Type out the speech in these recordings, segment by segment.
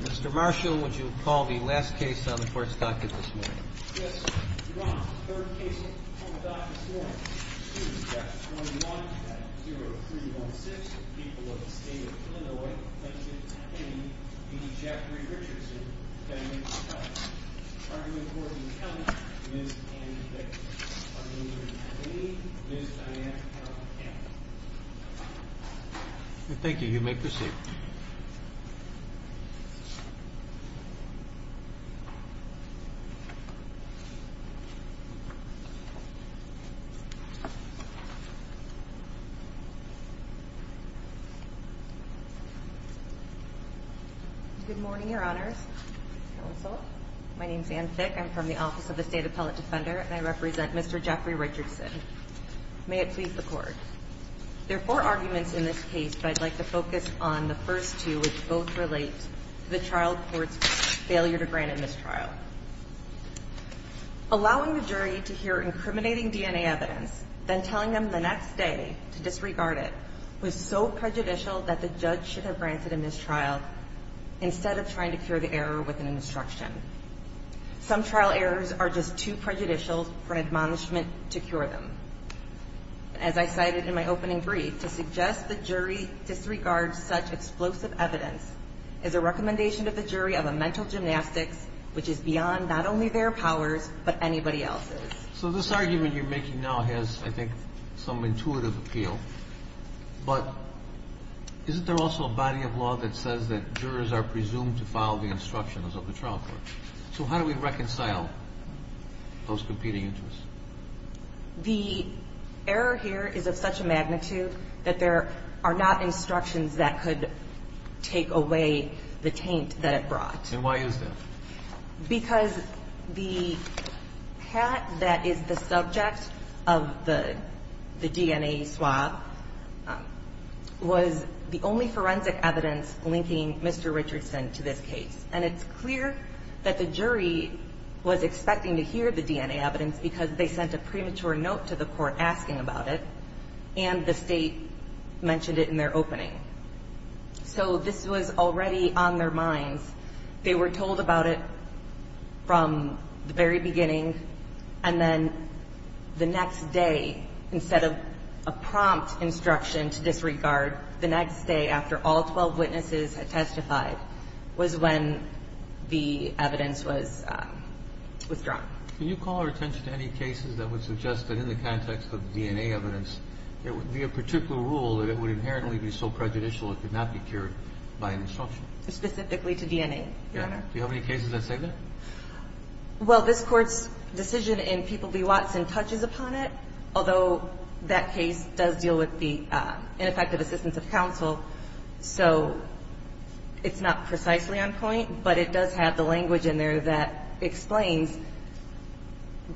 Mr. Marshall, would you call the last case on the court's docket this morning? Yes, Your Honor, the third case on the docket this morning. 2-1-1-0-3-1-6. People of the State of Illinois. Thank you. A. D. Jeffrey Richardson. Defendant. Defendant. Argue in court in the county. Ms. Annie Baker. Argue in court in the county. Ms. Diane Carroll. Defendant. Thank you. You may proceed. Good morning, Your Honors. Counsel. My name is Anne Fick. I'm from the Office of the State Appellate Defender, and I represent Mr. Jeffrey Richardson. May it please the Court. There are four arguments in this case, but I'd like to focus on the first two, which both relate to the trial court's failure to grant a mistrial. Allowing the jury to hear incriminating DNA evidence, then telling them the next day to disregard it, was so prejudicial that the judge should have granted a mistrial instead of trying to cure the error with an instruction. Some trial errors are just too prejudicial for an admonishment to cure them. As I cited in my opening brief, to suggest the jury disregards such explosive evidence is a recommendation of the jury of a mental gymnastics, which is beyond not only their powers, but anybody else's. So this argument you're making now has, I think, some intuitive appeal, but isn't there also a body of law that says that jurors are presumed to follow the instructions of the trial court? So how do we reconcile those competing interests? The error here is of such a magnitude that there are not instructions that could take away the taint that it brought. And why is that? Because the hat that is the subject of the DNA swab was the only forensic evidence linking Mr. Richardson to this case. And it's clear that the jury was expecting to hear the DNA evidence because they sent a premature note to the court asking about it, and the state mentioned it in their opening. So this was already on their minds. They were told about it from the very beginning, and then the next day, instead of a prompt instruction to disregard, the next day after all 12 witnesses had testified was when the evidence was withdrawn. Can you call our attention to any cases that would suggest that in the context of DNA evidence, there would be a particular rule that it would inherently be so prejudicial it could not be cured by an instruction? Specifically to DNA, Your Honor. Do you have any cases that say that? Well, this Court's decision in People v. Watson touches upon it, although that case does deal with the ineffective assistance of counsel. So it's not precisely on point, but it does have the language in there that explains.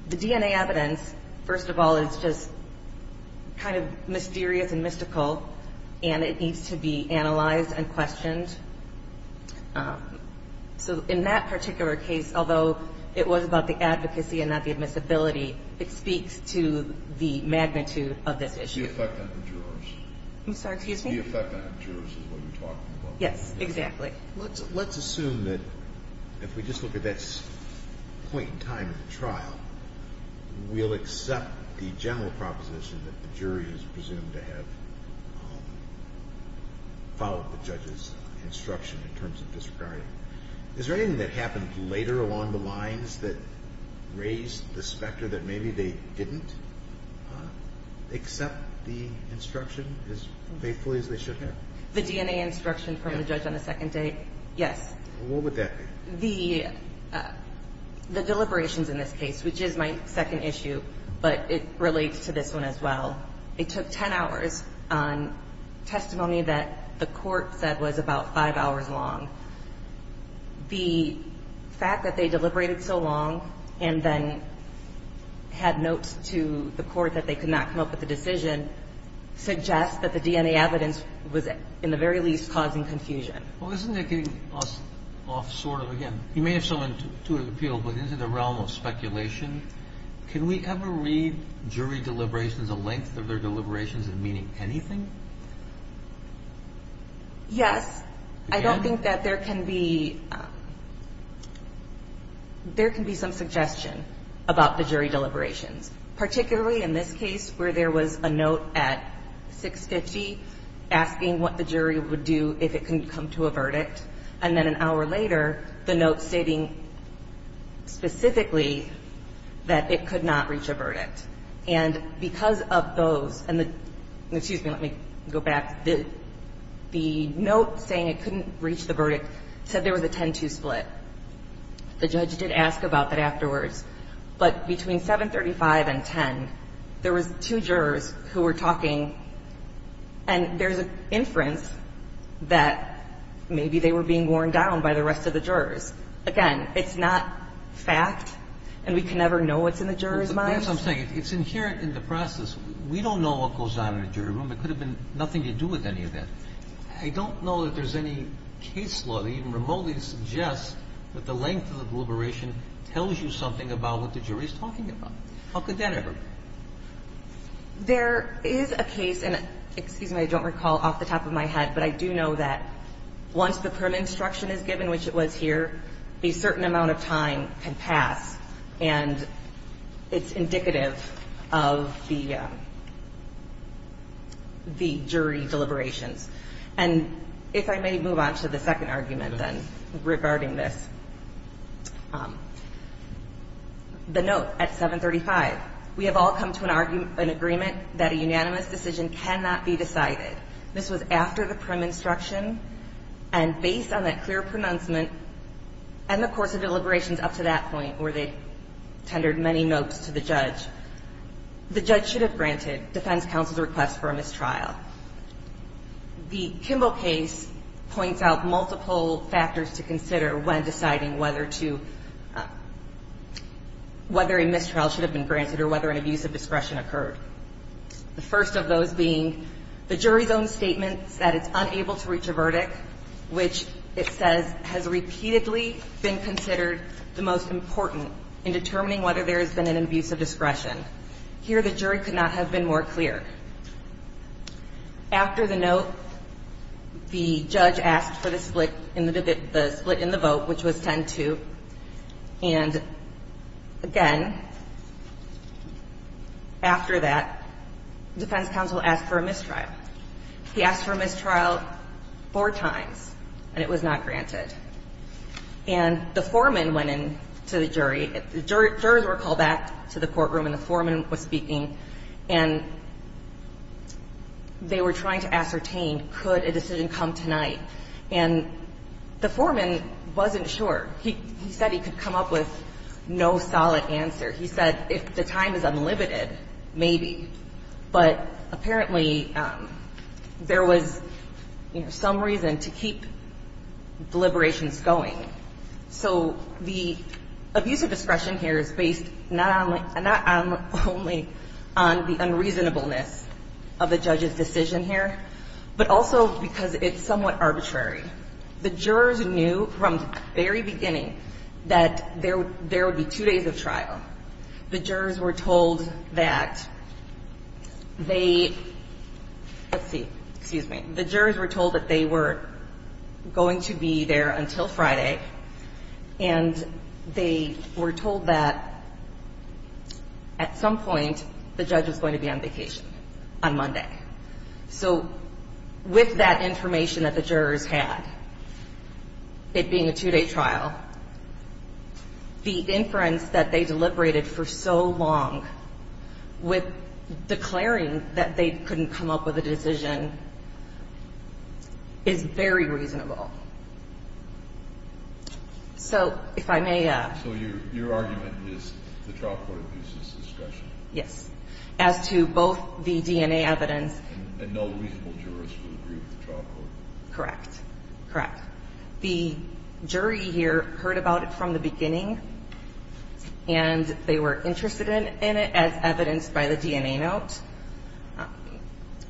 The DNA evidence, first of all, is just kind of mysterious and mystical, and it needs to be analyzed and questioned. So in that particular case, although it was about the advocacy and not the admissibility, it speaks to the magnitude of this issue. It's the effect on the jurors. I'm sorry. The effect on the jurors is what you're talking about. Yes, exactly. Let's assume that if we just look at this point in time in the trial, we'll accept the general proposition that the jury is presumed to have followed the judge's instruction in terms of disregard. Is there anything that happened later along the lines that raised the specter that maybe they didn't accept the instruction? As faithfully as they should have? The DNA instruction from the judge on the second date, yes. What would that be? The deliberations in this case, which is my second issue, but it relates to this one as well. It took 10 hours on testimony that the Court said was about 5 hours long. The fact that they deliberated so long and then had notes to the Court that they could not come up with a decision suggests that the DNA evidence was in the very least causing confusion. Well, isn't it getting us off sort of again? You may have some intuitive appeal, but in the realm of speculation, can we ever read jury deliberations, the length of their deliberations, as meaning anything? Yes. I don't think that there can be some suggestion about the jury deliberations, particularly in this case where there was a note at 650 asking what the jury would do if it couldn't come to a verdict. And then an hour later, the note stating specifically that it could not reach a verdict. And because of those, and the ñ excuse me, let me go back. The note saying it couldn't reach the verdict said there was a 10-2 split. The judge did ask about that afterwards. But between 735 and 10, there was two jurors who were talking, and there's an inference that maybe they were being worn down by the rest of the jurors. Again, it's not fact, and we can never know what's in the jurors' minds. That's what I'm saying. It's inherent in the process. We don't know what goes on in a jury room. It could have been nothing to do with any of that. I don't know that there's any case law that even remotely suggests that the length of the deliberation tells you something about what the jury is talking about. How could that ever be? There is a case, and excuse me, I don't recall off the top of my head, but I do know that once the current instruction is given, which it was here, a certain amount of time can pass, and it's indicative of the jury deliberations. And if I may move on to the second argument, then, regarding this. The note at 735. We have all come to an agreement that a unanimous decision cannot be decided. This was after the prim instruction, and based on that clear pronouncement and the course of deliberations up to that point where they tendered many notes to the judge, the judge should have granted defense counsel's request for a mistrial. The Kimball case points out multiple factors to consider when deciding whether to whether a mistrial should have been granted or whether an abuse of discretion occurred. The first of those being the jury's own statements that it's unable to reach a verdict, which it says has repeatedly been considered the most important in determining whether there has been an abuse of discretion. Here the jury could not have been more clear. After the note, the judge asked for the split in the vote, which was 10-2. And, again, after that, defense counsel asked for a mistrial. He asked for a mistrial four times, and it was not granted. And the foreman went in to the jury. The jurors were called back to the courtroom, and the foreman was speaking. And they were trying to ascertain could a decision come tonight. And the foreman wasn't sure. He said he could come up with no solid answer. He said if the time is unlimited, maybe. But apparently, there was, you know, some reason to keep deliberations going. So the abuse of discretion here is based not only on the unreasonableness of the judge's decision here, but also because it's somewhat arbitrary. The jurors knew from the very beginning that there would be two days of trial. The jurors were told that they – let's see. Excuse me. The jurors were told that they were going to be there until Friday, and they were told that at some point, the judge was going to be on vacation on Monday. So with that information that the jurors had, it being a two-day trial, the inference that they deliberated for so long, with declaring that they couldn't come up with a decision, is very reasonable. So if I may. So your argument is the trial court abuses discretion? Yes. As to both the DNA evidence. And no reasonable jurors would agree with the trial court? The jury here heard about it from the beginning, and they were interested in it as evidenced by the DNA note.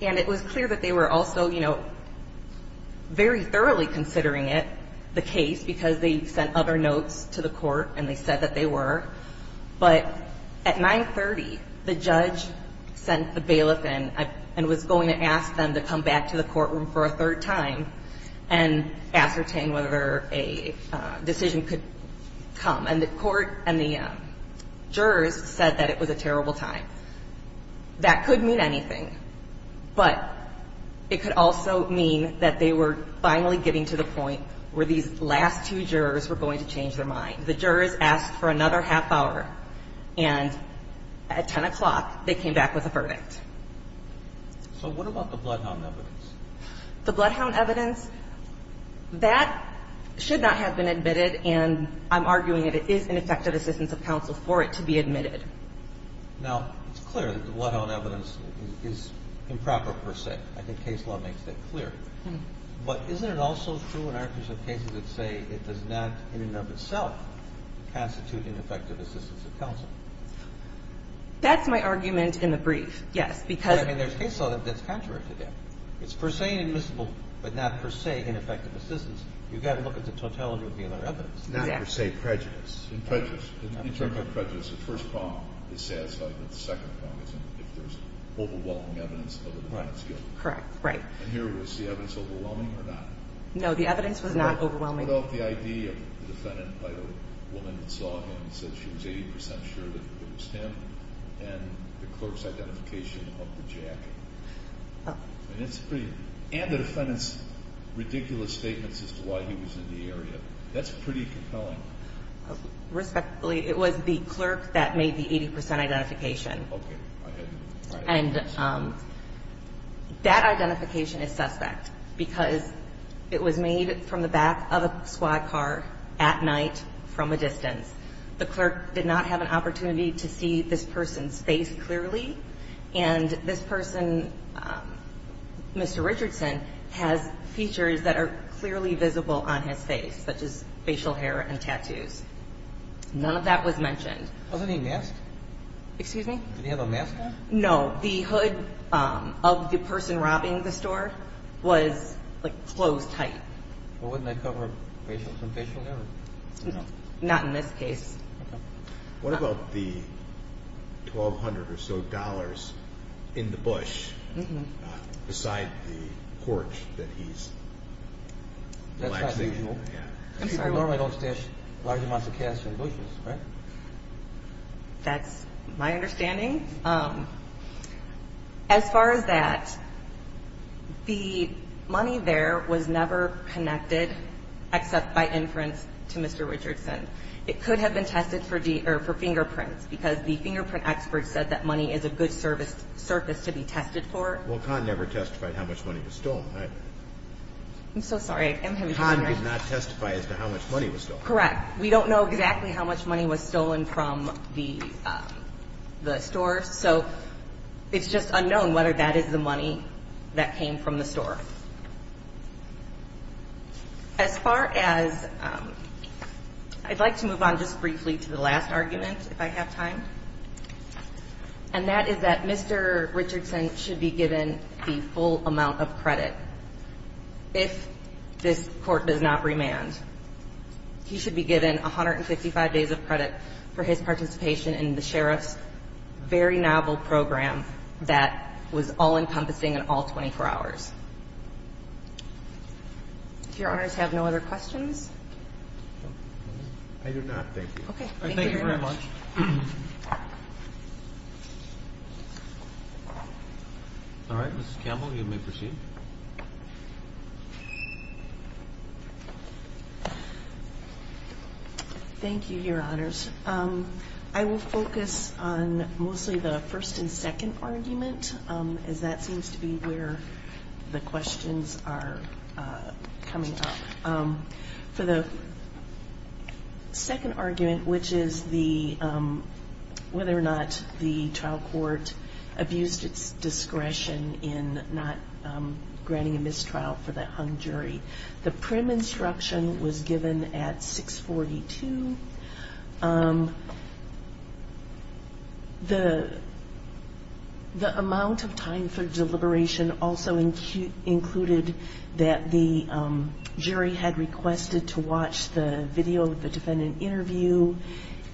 And it was clear that they were also, you know, very thoroughly considering it, the case, because they sent other notes to the court, and they said that they were. But at 930, the judge sent the bailiff in and was going to ask them to come back to the courtroom for a third time and ascertain whether a decision could come. And the court and the jurors said that it was a terrible time. That could mean anything, but it could also mean that they were finally getting to the point where these last two jurors were going to change their mind. The jurors asked for another half hour, and at 10 o'clock, they came back with a verdict. So what about the bloodhound evidence? The bloodhound evidence, that should not have been admitted, and I'm arguing that it is ineffective assistance of counsel for it to be admitted. Now, it's clear that the bloodhound evidence is improper, per se. I think case law makes that clear. But isn't it also true in our case of cases that say it does not in and of itself constitute ineffective assistance of counsel? That's my argument in the brief, yes, because... But, I mean, there's case law that's contrary to that. It's per se inadmissible, but not per se ineffective assistance. You've got to look at the totality of the other evidence. Not per se prejudice. In prejudice. In terms of prejudice, the first problem is satisfying, but the second problem is if there's overwhelming evidence of the defendant's guilt. Correct. Right. And here, was the evidence overwhelming or not? No, the evidence was not overwhelming. What about the ID of the defendant by the woman that saw him and said she was 80 percent sure that it was him, and the clerk's identification of the jacket? And it's pretty... And the defendant's ridiculous statements as to why he was in the area. That's pretty compelling. Respectfully, it was the clerk that made the 80 percent identification. Okay. Go ahead. And that identification is suspect because it was made from the back of a squad car at night from a distance. The clerk did not have an opportunity to see this person's face clearly, and this person, Mr. Richardson, has features that are clearly visible on his face, such as facial hair and tattoos. None of that was mentioned. Wasn't he masked? Excuse me? Did he have a mask on? No. The hood of the person robbing the store was, like, closed tight. Well, wouldn't that cover some facial hair? Not in this case. What about the $1,200 or so in the bush beside the porch that he's... That's not usual. People normally don't stash large amounts of cash in bushes, right? That's my understanding. As far as that, the money there was never connected except by inference to Mr. Richardson. It could have been tested for fingerprints because the fingerprint expert said that money is a good surface to be tested for. Well, Conn never testified how much money was stolen, right? I'm so sorry. I'm having trouble hearing. Conn did not testify as to how much money was stolen. Correct. We don't know exactly how much money was stolen from the store, As far as... I'd like to move on just briefly to the last argument, if I have time. And that is that Mr. Richardson should be given the full amount of credit if this court does not remand. He should be given 155 days of credit for his participation in the Sheriff's very novel program that was all-encompassing in all 24 hours. Do Your Honors have no other questions? I do not, thank you. Okay. Thank you very much. Thank you very much. All right. Mrs. Campbell, you may proceed. Thank you, Your Honors. I will focus on mostly the first and second argument as that seems to be where the questions are coming up. For the second argument, which is whether or not the trial court abused its discretion in not granting a mistrial for the hung jury, the prim instruction was given at 642. The amount of time for deliberation also included that the jury had requested to watch the video of the defendant interview,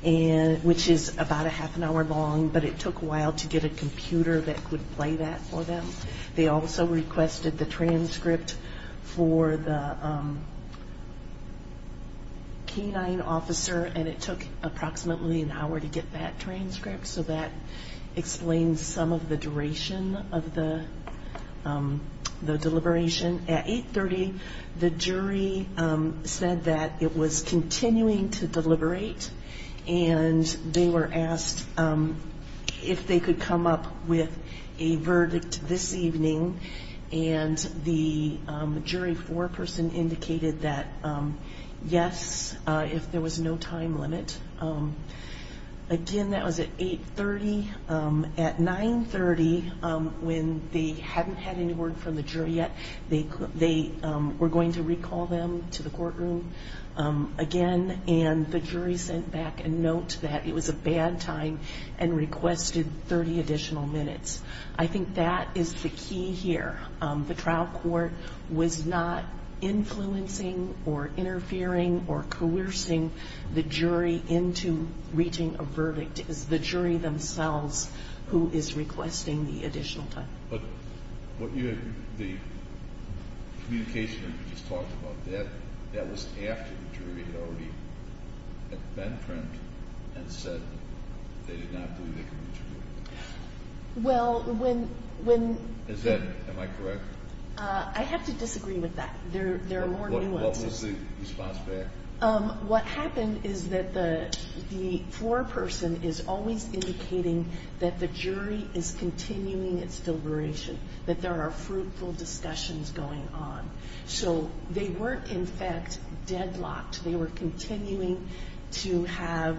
which is about a half an hour long, but it took a while to get a computer that could play that for them. They also requested the transcript for the canine officer, and it took approximately an hour to get that transcript, so that explains some of the duration of the deliberation. At 830, the jury said that it was continuing to deliberate, and they were asked if they could come up with a verdict this evening, and the jury foreperson indicated that yes, if there was no time limit. Again, that was at 830. At 930, when they hadn't had any word from the jury yet, they were going to recall them to the courtroom again, and the jury sent back a note that it was a bad time and requested 30 additional minutes. I think that is the key here. The trial court was not influencing or interfering or coercing the jury into reaching a verdict. It is the jury themselves who is requesting the additional time. But the communication that you just talked about, that was after the jury had already been primed and said they did not believe they could reach a verdict. Well, when... Am I correct? I have to disagree with that. What was the response there? What happened is that the foreperson is always indicating that the jury is continuing its deliberation, that there are fruitful discussions going on. So they weren't, in fact, deadlocked. They were continuing to have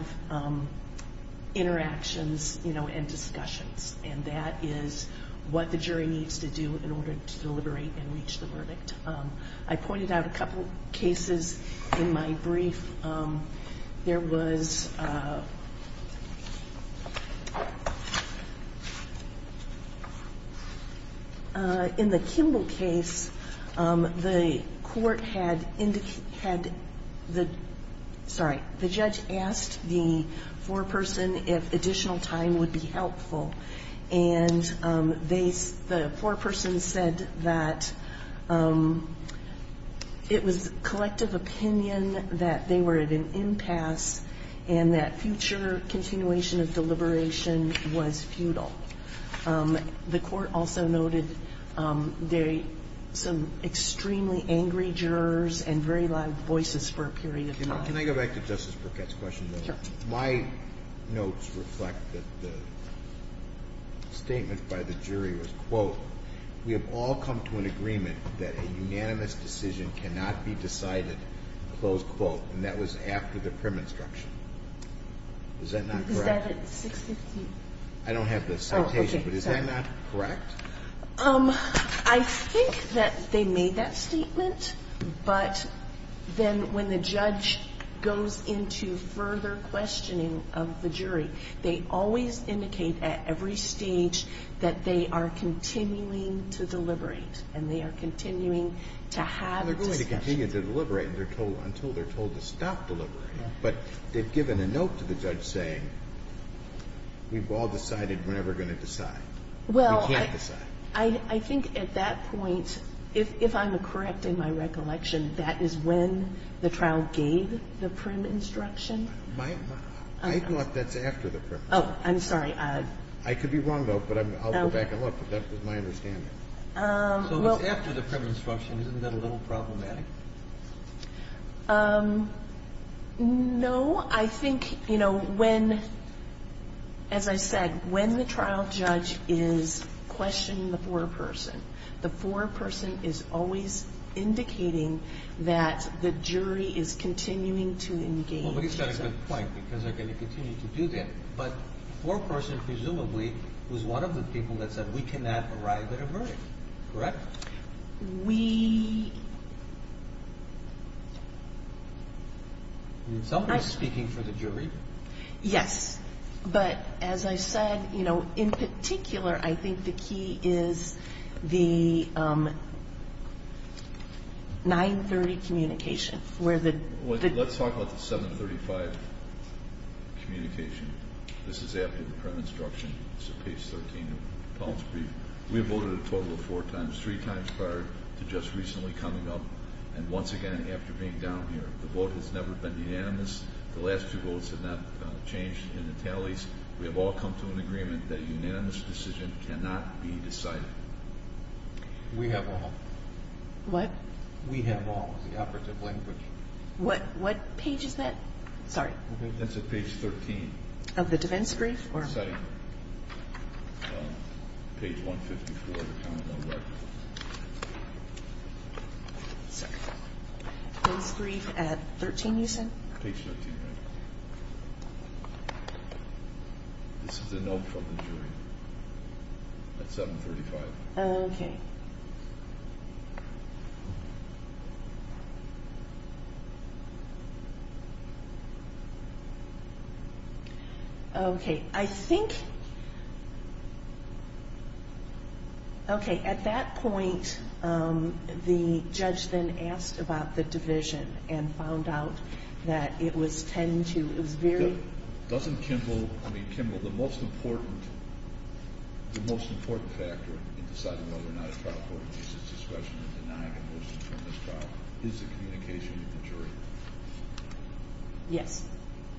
interactions and discussions, and that is what the jury needs to do in order to deliberate and reach the verdict. I pointed out a couple of cases in my brief. There was... In the Kimball case, the court had indicated... Sorry. The judge asked the foreperson if additional time would be helpful, and the foreperson said that it was collective opinion that they were at an impasse and that future continuation of deliberation was futile. The court also noted there were some extremely angry jurors and very loud voices for a period of time. Can I go back to Justice Burkett's question, though? Sure. My notes reflect that the statement by the jury was, quote, we have all come to an agreement that a unanimous decision cannot be decided, close quote, and that was after the prim instruction. Is that not correct? Is that at 615? I don't have the citation, but is that not correct? I think that they made that statement, but then when the judge goes into further questioning of the jury, they always indicate at every stage that they are continuing to deliberate and they are continuing to have discussions. They're going to continue to deliberate until they're told to stop deliberating, but they've given a note to the judge saying we've all decided we're never going to decide. We can't decide. Well, I think at that point, if I'm correct in my recollection, that is when the trial gave the prim instruction. I thought that's after the prim instruction. Oh, I'm sorry. I could be wrong, though, but I'll go back and look, but that was my understanding. So it was after the prim instruction. Isn't that a little problematic? No. I think, you know, when, as I said, when the trial judge is questioning the foreperson, the foreperson is always indicating that the jury is continuing to engage. Well, but he's got a good point because they're going to continue to do that, but the foreperson presumably was one of the people that said we cannot arrive at a verdict, correct? We... Somebody's speaking for the jury. Yes, but as I said, you know, in particular, I think the key is the 930 communication where the... Let's talk about the 735 communication. This is after the prim instruction. It's at page 13 of Collins brief. We voted a total of four times, three times prior to just recently coming up, and once again after being down here. The vote has never been unanimous. The last two votes have not changed in the tallies. We have all come to an agreement that a unanimous decision cannot be decided. We have all. What? We have all, the operative language. What page is that? Sorry. It's at page 13. Of the defense brief? Page 154. Page 154, the common law record. Sorry. Defense brief at 13, you said? Page 13, right. This is a note from the jury at 735. Okay. Okay. I think... Okay, at that point, the judge then asked about the division and found out that it was 10-2. It was very... Doesn't Kimball... Yes.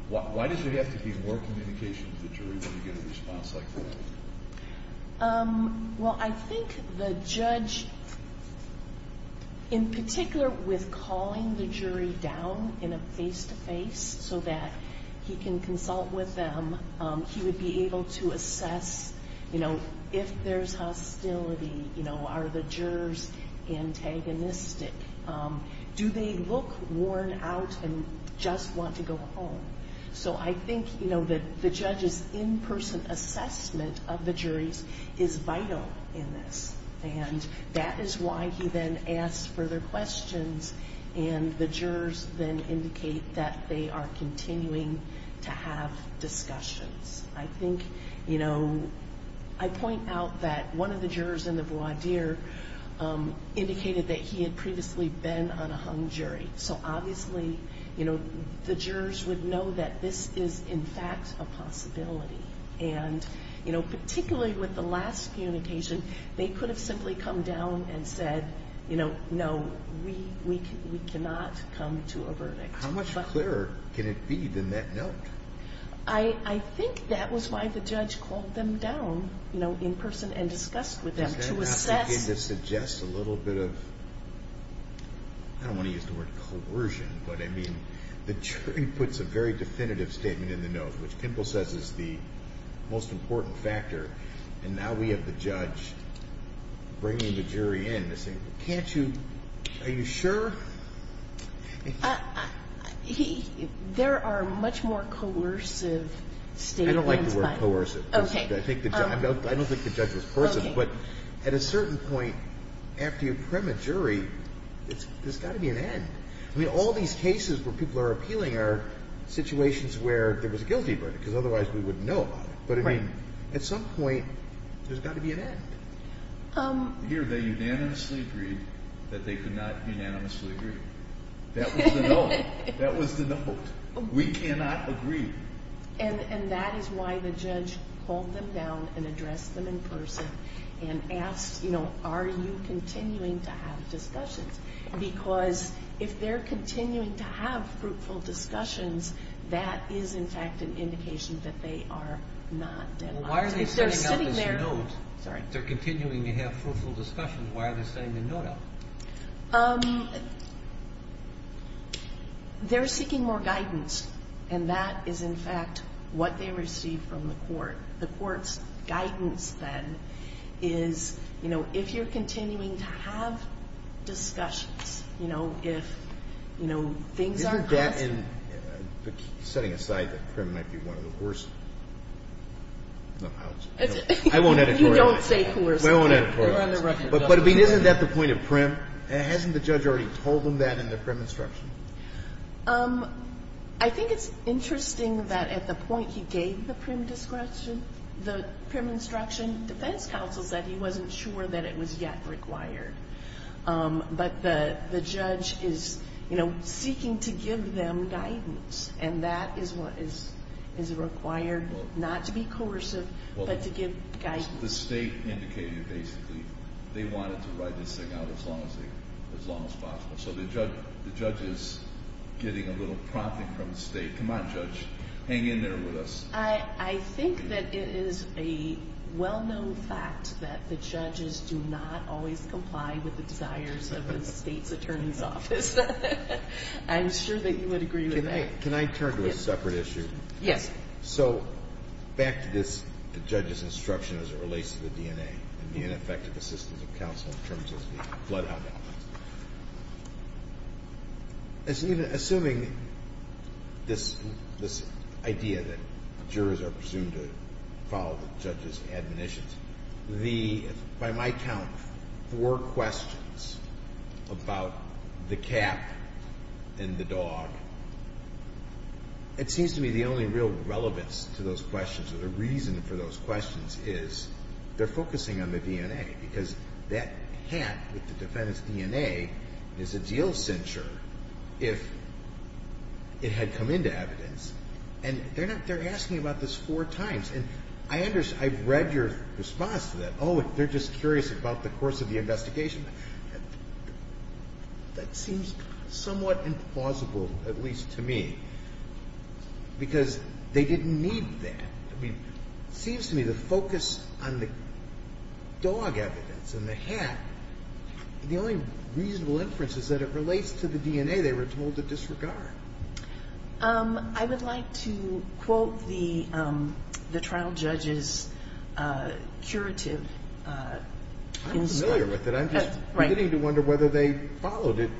Why does there have to be more communication with the jury when you get a response like that? Well, I think the judge, in particular with calling the jury down in a face-to-face so that he can consult with them, he would be able to assess, you know, if there's hostility, you know, are the jurors antagonistic? Do they look worn out and just want to go home? So I think, you know, the judge's in-person assessment of the juries is vital in this, and that is why he then asked further questions, and the jurors then indicate that they are continuing to have discussions. I think, you know, I point out that one of the jurors in the voir dire indicated that he had previously been on a hung jury, so obviously, you know, the jurors would know that this is in fact a possibility. And, you know, particularly with the last communication, they could have simply come down and said, you know, no, we cannot come to a verdict. How much clearer can it be than that note? I think that was why the judge called them down, you know, in-person and discussed with them to assess. Does that not begin to suggest a little bit of, I don't want to use the word coercion, but I mean the jury puts a very definitive statement in the note, which Kimball says is the most important factor, and now we have the judge bringing the jury in to say, can't you, are you sure? There are much more coercive statements. I don't like the word coercive. Okay. I don't think the judge was personal. But at a certain point after you prim a jury, there's got to be an end. I mean all these cases where people are appealing are situations where there was a guilty verdict because otherwise we wouldn't know about it. But I mean at some point there's got to be an end. Here they unanimously agreed that they could not unanimously agree. That was the note. That was the note. We cannot agree. And that is why the judge called them down and addressed them in person and asked, you know, are you continuing to have discussions? Because if they're continuing to have fruitful discussions, that is in fact an indication that they are not. Well, why are they setting out this note? If they're continuing to have fruitful discussions, why are they setting the note out? They're seeking more guidance, and that is in fact what they received from the court. The court's guidance then is, you know, if you're continuing to have discussions, you know, if things are coercive. Setting aside that prim might be one of the coercive. No, I won't add a coercive. You don't say coercive. I won't add a coercive. But isn't that the point of prim? Hasn't the judge already told them that in the prim instruction? I think it's interesting that at the point he gave the prim instruction, defense counsel said he wasn't sure that it was yet required. But the judge is, you know, seeking to give them guidance, and that is required not to be coercive but to give guidance. The state indicated basically they wanted to write this thing out as long as possible. So the judge is getting a little prompting from the state. Come on, judge. Hang in there with us. I think that it is a well-known fact that the judges do not always comply with the desires of the state's attorney's office. I'm sure that you would agree with that. Can I turn to a separate issue? Yes. So back to this judge's instruction as it relates to the DNA and the ineffective assistance of counsel in terms of the flood out. Assuming this idea that jurors are presumed to follow the judge's admonitions, the by my count four questions about the cat and the dog, it seems to me the only real relevance to those questions or the reason for those questions is they're focusing on the DNA because that cat with the defendant's DNA is a deal cincher if it had come into evidence. And they're asking about this four times. And I've read your response to that. Oh, they're just curious about the course of the investigation. That seems somewhat implausible, at least to me, because they didn't need that. It seems to me the focus on the dog evidence and the cat, the only reasonable inference is that it relates to the DNA they were told to disregard. I would like to quote the trial judge's curative concern. I'm familiar with it. I'm just beginning to wonder whether they followed it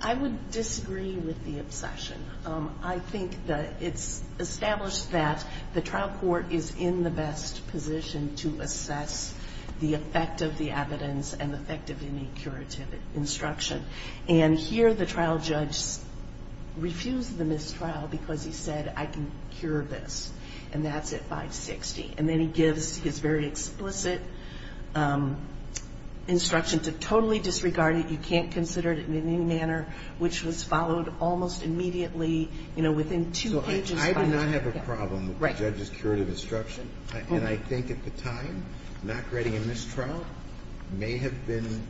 I would disagree with the obsession. I think that it's established that the trial court is in the best position to assess the effect of the evidence and the effect of any curative instruction. And here the trial judge refused the mistrial because he said, I can cure this, and that's at 560. And then he gives his very explicit instruction to totally disregard it. You can't consider it in any manner, which was followed almost immediately, you know, within two pages. I do not have a problem with the judge's curative instruction. And I think at the time, not grading a mistrial may have been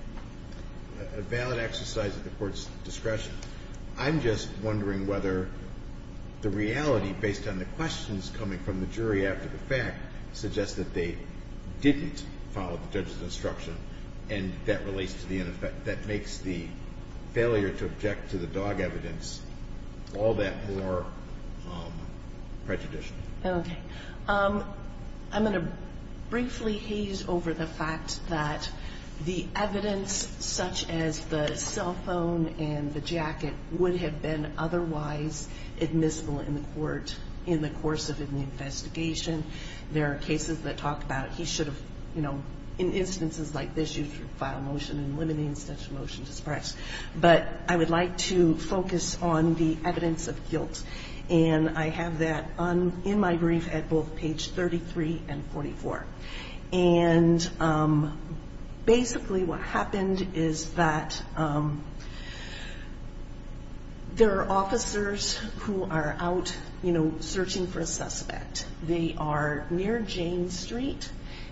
a valid exercise of the court's discretion. I'm just wondering whether the reality, based on the questions coming from the jury after the fact, suggests that they didn't follow the judge's instruction and that relates to the end effect. That makes the failure to object to the dog evidence all that more prejudicial. Okay. I'm going to briefly haze over the fact that the evidence, such as the cell phone and the jacket, would have been otherwise admissible in the court in the course of an investigation. There are cases that talk about he should have, you know, in instances like this, he should file a motion in limiting such a motion to suppress. But I would like to focus on the evidence of guilt. And I have that in my brief at both page 33 and 44. And basically what happened is that there are officers who are out, you know, searching for a suspect. They are near Jane Street.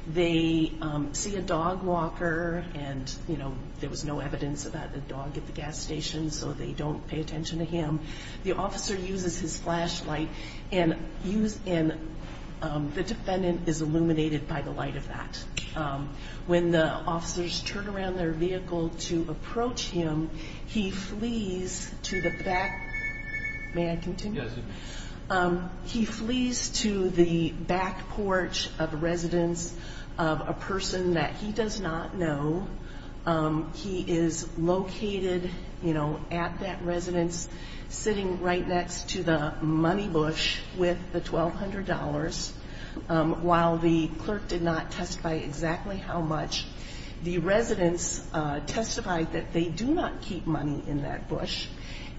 They see a dog walker and, you know, there was no evidence about the dog at the gas station, so they don't pay attention to him. The officer uses his flashlight and the defendant is illuminated by the light of that. When the officers turn around their vehicle to approach him, he flees to the back. May I continue? Yes, you may. He flees to the back porch of a residence of a person that he does not know. He is located, you know, at that residence, sitting right next to the money bush with the $1,200. While the clerk did not testify exactly how much, the residents testified that they do not keep money in that bush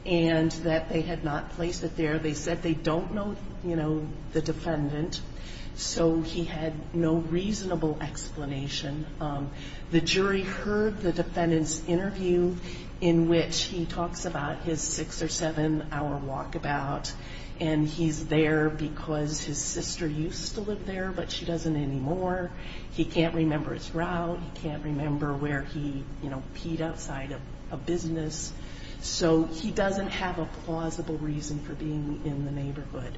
and that they had not placed it there. They said they don't know, you know, the defendant, so he had no reasonable explanation. The jury heard the defendant's interview in which he talks about his six- or seven-hour walkabout, and he's there because his sister used to live there, but she doesn't anymore. He can't remember his route. He can't remember where he, you know, peed outside a business. So he doesn't have a plausible reason for being in the neighborhood.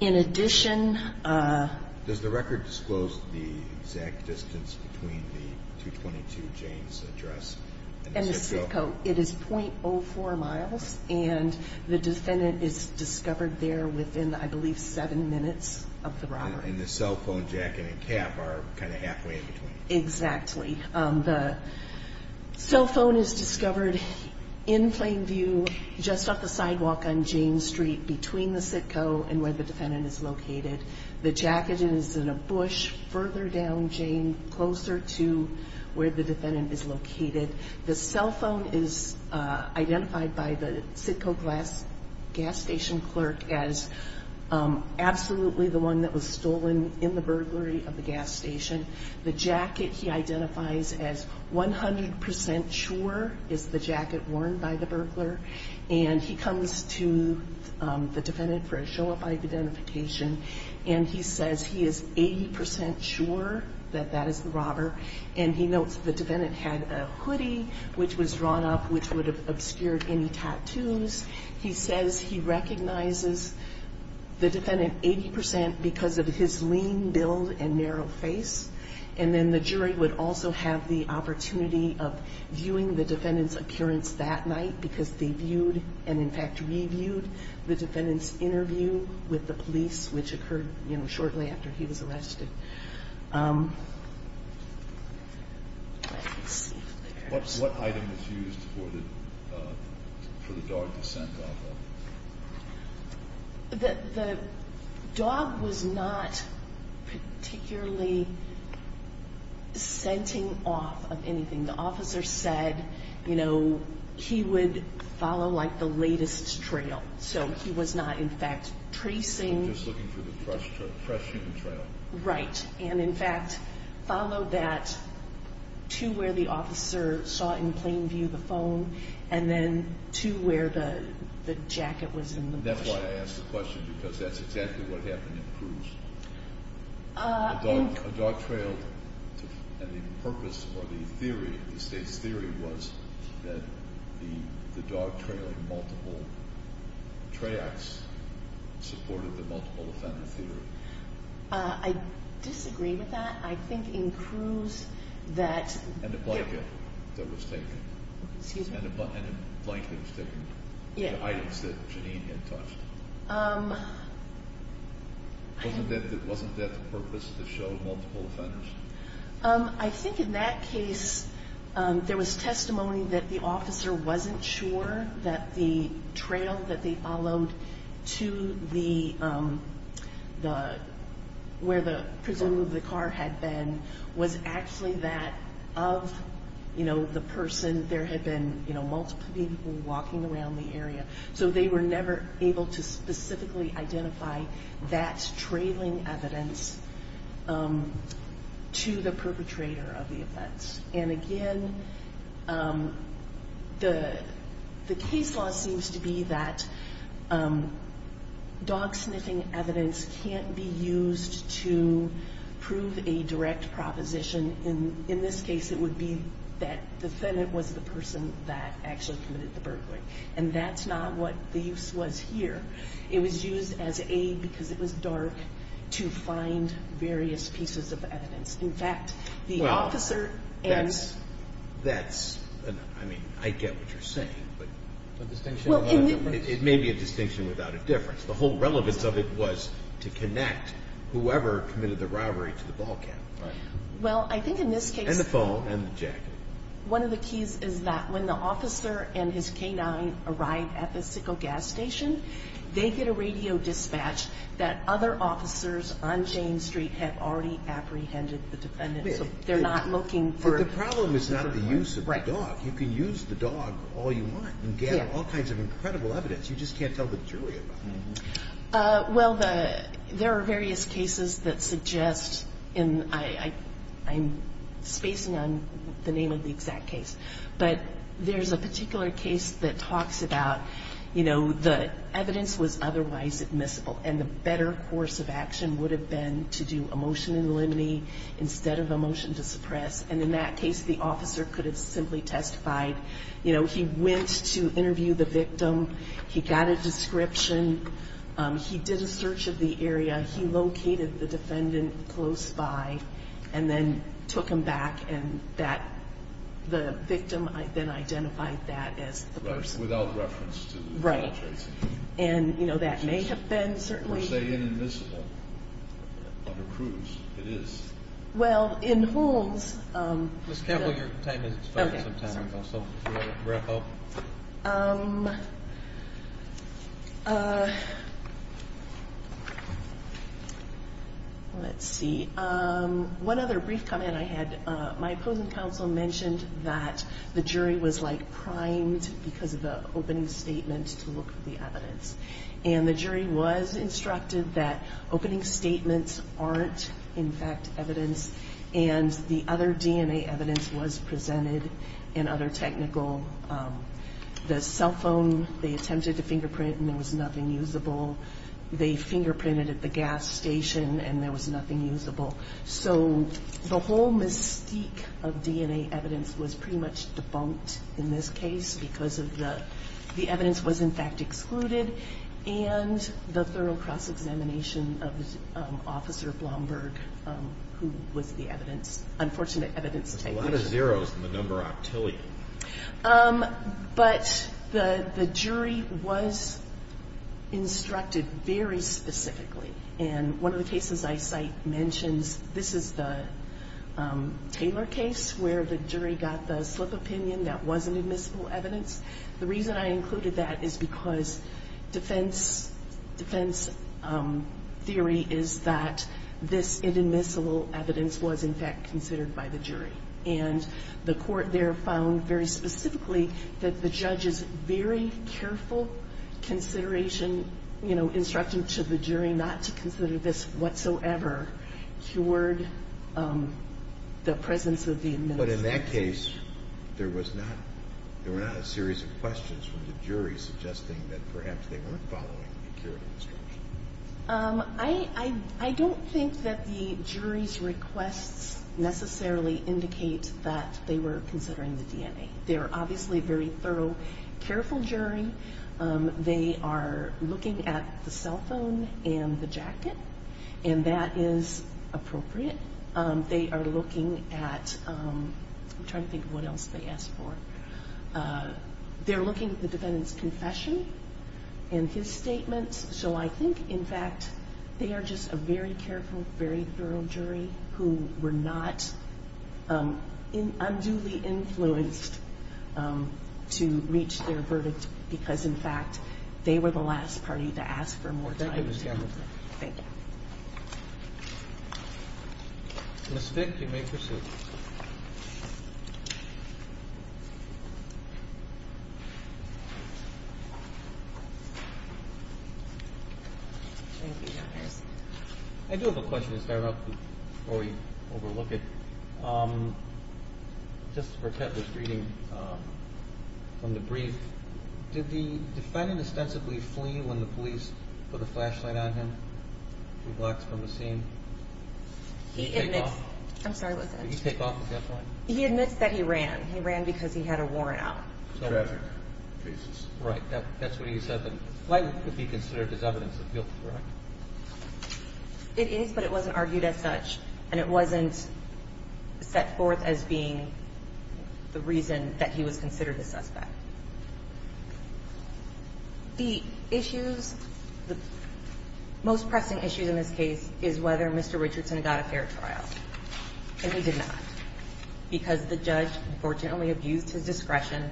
In addition... Does the record disclose the exact distance between the 222 James address and the CITCO? And the CITCO. It is .04 miles, and the defendant is discovered there within, I believe, seven minutes of the robbery. And the cell phone jacket and cap are kind of halfway in between. Exactly. The cell phone is discovered in plain view just off the sidewalk on James Street between the CITCO and where the defendant is located. The jacket is in a bush further down James, closer to where the defendant is located. The cell phone is identified by the CITCO gas station clerk as absolutely the one that was stolen in the burglary of the gas station. The jacket he identifies as 100% sure is the jacket worn by the burglar. And he comes to the defendant for a show of identification, and he says he is 80% sure that that is the robber. And he notes the defendant had a hoodie which was drawn up which would have obscured any tattoos. He says he recognizes the defendant 80% because of his lean build and narrow face. And then the jury would also have the opportunity of viewing the defendant's appearance that night because they viewed and, in fact, reviewed the defendant's interview with the police, What item was used for the dog to scent off of? The dog was not particularly scenting off of anything. The officer said, you know, he would follow, like, the latest trail. So he was not, in fact, tracing. He was just looking for the fresh human trail. Right. And, in fact, followed that to where the officer saw in plain view the phone and then to where the jacket was in the motion. That's why I asked the question because that's exactly what happened in Cruz. A dog trail and the purpose or the theory, the state's theory, was that the dog trail in multiple tracts supported the multiple offender theory. I disagree with that. I think in Cruz that And the blanket that was taken. Excuse me. And the blanket was taken. Yeah. And the items that Janine had touched. Wasn't that the purpose to show multiple offenders? I think in that case there was testimony that the officer wasn't sure that the trail that they followed to the, where the presumed the car had been was actually that of, you know, the person. There had been, you know, multiple people walking around the area. So they were never able to specifically identify that trailing evidence to the perpetrator of the events. And, again, the case law seems to be that dog sniffing evidence can't be used to prove a direct proposition. In this case it would be that the defendant was the person that actually committed the burglary. And that's not what the use was here. It was used as aid because it was dark to find various pieces of evidence. In fact, the officer and Well, that's, I mean, I get what you're saying, but A distinction without a difference. It may be a distinction without a difference. The whole relevance of it was to connect whoever committed the robbery to the ball camp. Right. Well, I think in this case And the phone and the jacket. One of the keys is that when the officer and his canine arrive at the sickle gas station, they get a radio dispatch that other officers on Jane Street have already apprehended the defendant. They're not looking for The problem is not the use of the dog. You can use the dog all you want and get all kinds of incredible evidence. You just can't tell the jury about it. Well, there are various cases that suggest, and I'm spacing on the name of the exact case, but there's a particular case that talks about, you know, the evidence was otherwise admissible and the better course of action would have been to do a motion in limine instead of a motion to suppress. And in that case, the officer could have simply testified. He got a description. He did a search of the area. He located the defendant close by and then took him back. And that the victim then identified that as the person. Without reference to the judge. Right. And, you know, that may have been certainly Or say inadmissible under Cruz. It is. Well, in Holmes Ms. Campbell, your time is up. Oh, let's see. One other brief comment I had. My opposing counsel mentioned that the jury was like primed because of the opening statement to look for the evidence. And the jury was instructed that opening statements aren't, in fact, evidence. And the other DNA evidence was presented in other technical. The cell phone they attempted to fingerprint and there was nothing usable. They fingerprinted at the gas station and there was nothing usable. So the whole mystique of DNA evidence was pretty much debunked in this case because of the evidence was, in fact, excluded. And the thorough cross-examination of Officer Blomberg, who was the evidence. Unfortunate evidence. There's a lot of zeros in the number octillion. But the jury was instructed very specifically. And one of the cases I cite mentions this is the Taylor case where the jury got the slip opinion that wasn't admissible evidence. The reason I included that is because defense theory is that this admissible evidence was, in fact, considered by the jury. And the court there found very specifically that the judge's very careful consideration, you know, instructed to the jury not to consider this whatsoever cured the presence of the admissible evidence. In this case, there was not a series of questions from the jury suggesting that perhaps they weren't following the instruction. I don't think that the jury's requests necessarily indicate that they were considering the DNA. They were obviously very thorough, careful jury. They are looking at the cell phone and the jacket. And that is appropriate. They are looking at I'm trying to think of what else they asked for. They're looking at the defendant's confession and his statements. So I think, in fact, they are just a very careful, very thorough jury who were not unduly influenced to reach their verdict, because, in fact, they were the last party to ask for more time. Thank you, Ms. Campbell. Thank you. Ms. Fick, you may proceed. Thank you, Justice. I do have a question to start off before we overlook it. Just to protect this reading from the brief, did the defendant ostensibly flee when the police put a flashlight on him? He walked from the scene? He admits. I'm sorry, what's that? Did he take off the flashlight? He admits that he ran. He ran because he had a warrant out. Tragic. Right. That's what he said. The flight would be considered as evidence of guilt, correct? It is, but it wasn't argued as such. And it wasn't set forth as being the reason that he was considered a suspect. The issues, the most pressing issues in this case is whether Mr. Richardson got a fair trial. And he did not, because the judge, unfortunately, abused his discretion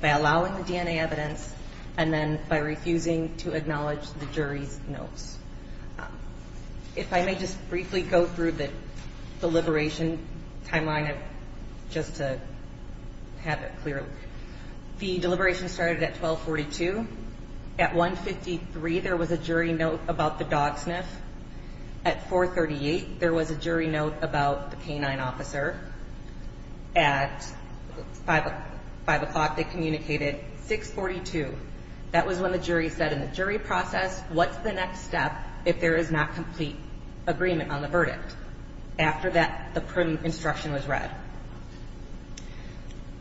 by allowing the DNA evidence and then by refusing to acknowledge the jury's notes. If I may just briefly go through the deliberation timeline just to have it clear. The deliberation started at 1242. At 153, there was a jury note about the dog sniff. At 438, there was a jury note about the canine officer. At 5 o'clock, they communicated. At 642, that was when the jury said in the jury process, what's the next step if there is not complete agreement on the verdict? After that, the instruction was read.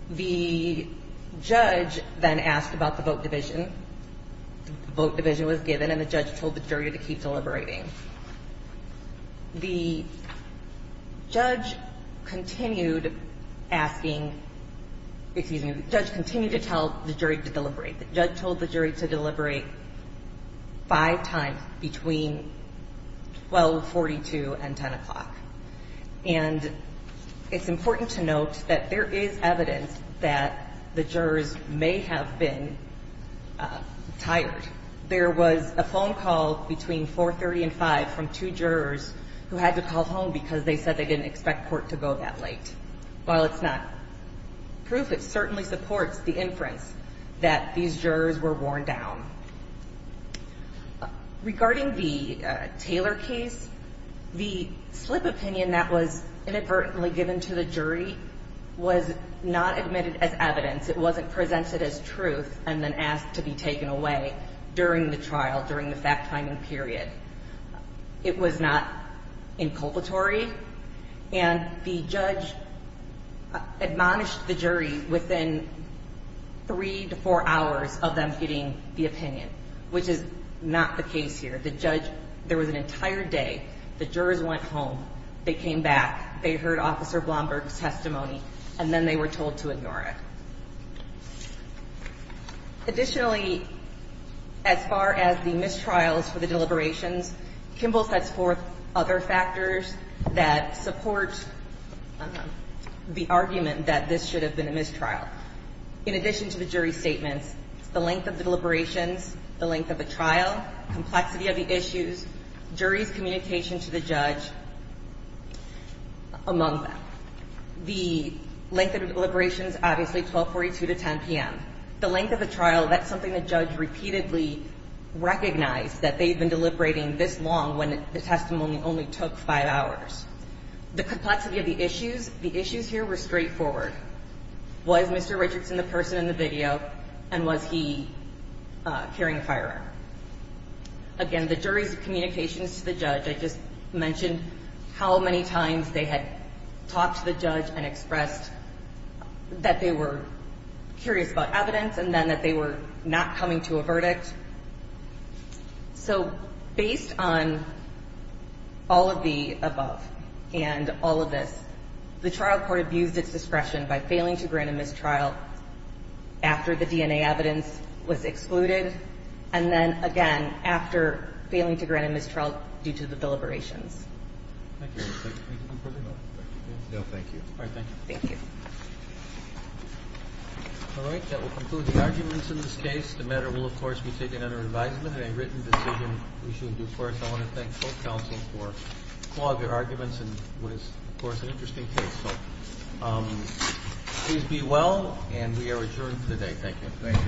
The judge then asked about the vote division. The vote division was given, and the judge told the jury to keep deliberating. The judge continued asking, excuse me, the judge continued to tell the jury to deliberate. The judge told the jury to deliberate five times between 1242 and 10 o'clock. And it's important to note that there is evidence that the jurors may have been tired. There was a phone call between 430 and 5 from two jurors who had to call home because they said they didn't expect court to go that late. While it's not proof, it certainly supports the inference that these jurors were worn down. Regarding the Taylor case, the slip opinion that was inadvertently given to the jury was not admitted as evidence. It wasn't presented as truth and then asked to be taken away during the trial, during the fact-finding period. It was not inculpatory. And the judge admonished the jury within three to four hours of them getting the opinion, which is not the case here. The judge, there was an entire day the jurors went home, they came back, they heard Officer Blomberg's testimony, and then they were told to ignore it. Additionally, as far as the mistrials for the deliberations, Kimball sets forth other factors that support the argument that this should have been a mistrial. In addition to the jury's statements, the length of the deliberations, the length of the trial, complexity of the issues, jury's communication to the judge, among them. The length of deliberations, obviously, 1242 to 10 p.m. The length of the trial, that's something the judge repeatedly recognized, that they'd been deliberating this long when the testimony only took five hours. The complexity of the issues, the issues here were straightforward. Was Mr. Richardson the person in the video, and was he carrying a firearm? Again, the jury's communications to the judge, I just mentioned how many times they had talked to the judge and expressed that they were curious about evidence and then that they were not coming to a verdict. So based on all of the above and all of this, the trial court abused its discretion by failing to grant a mistrial after the DNA evidence was excluded and then, again, after failing to grant a mistrial due to the deliberations. Thank you. No, thank you. All right, thank you. Thank you. All right, that will conclude the arguments in this case. The matter will, of course, be taken under advisement and a written decision we should do first. I want to thank both counsels for their arguments and what is, of course, an interesting case. Please be well, and we are adjourned for the day. Thank you.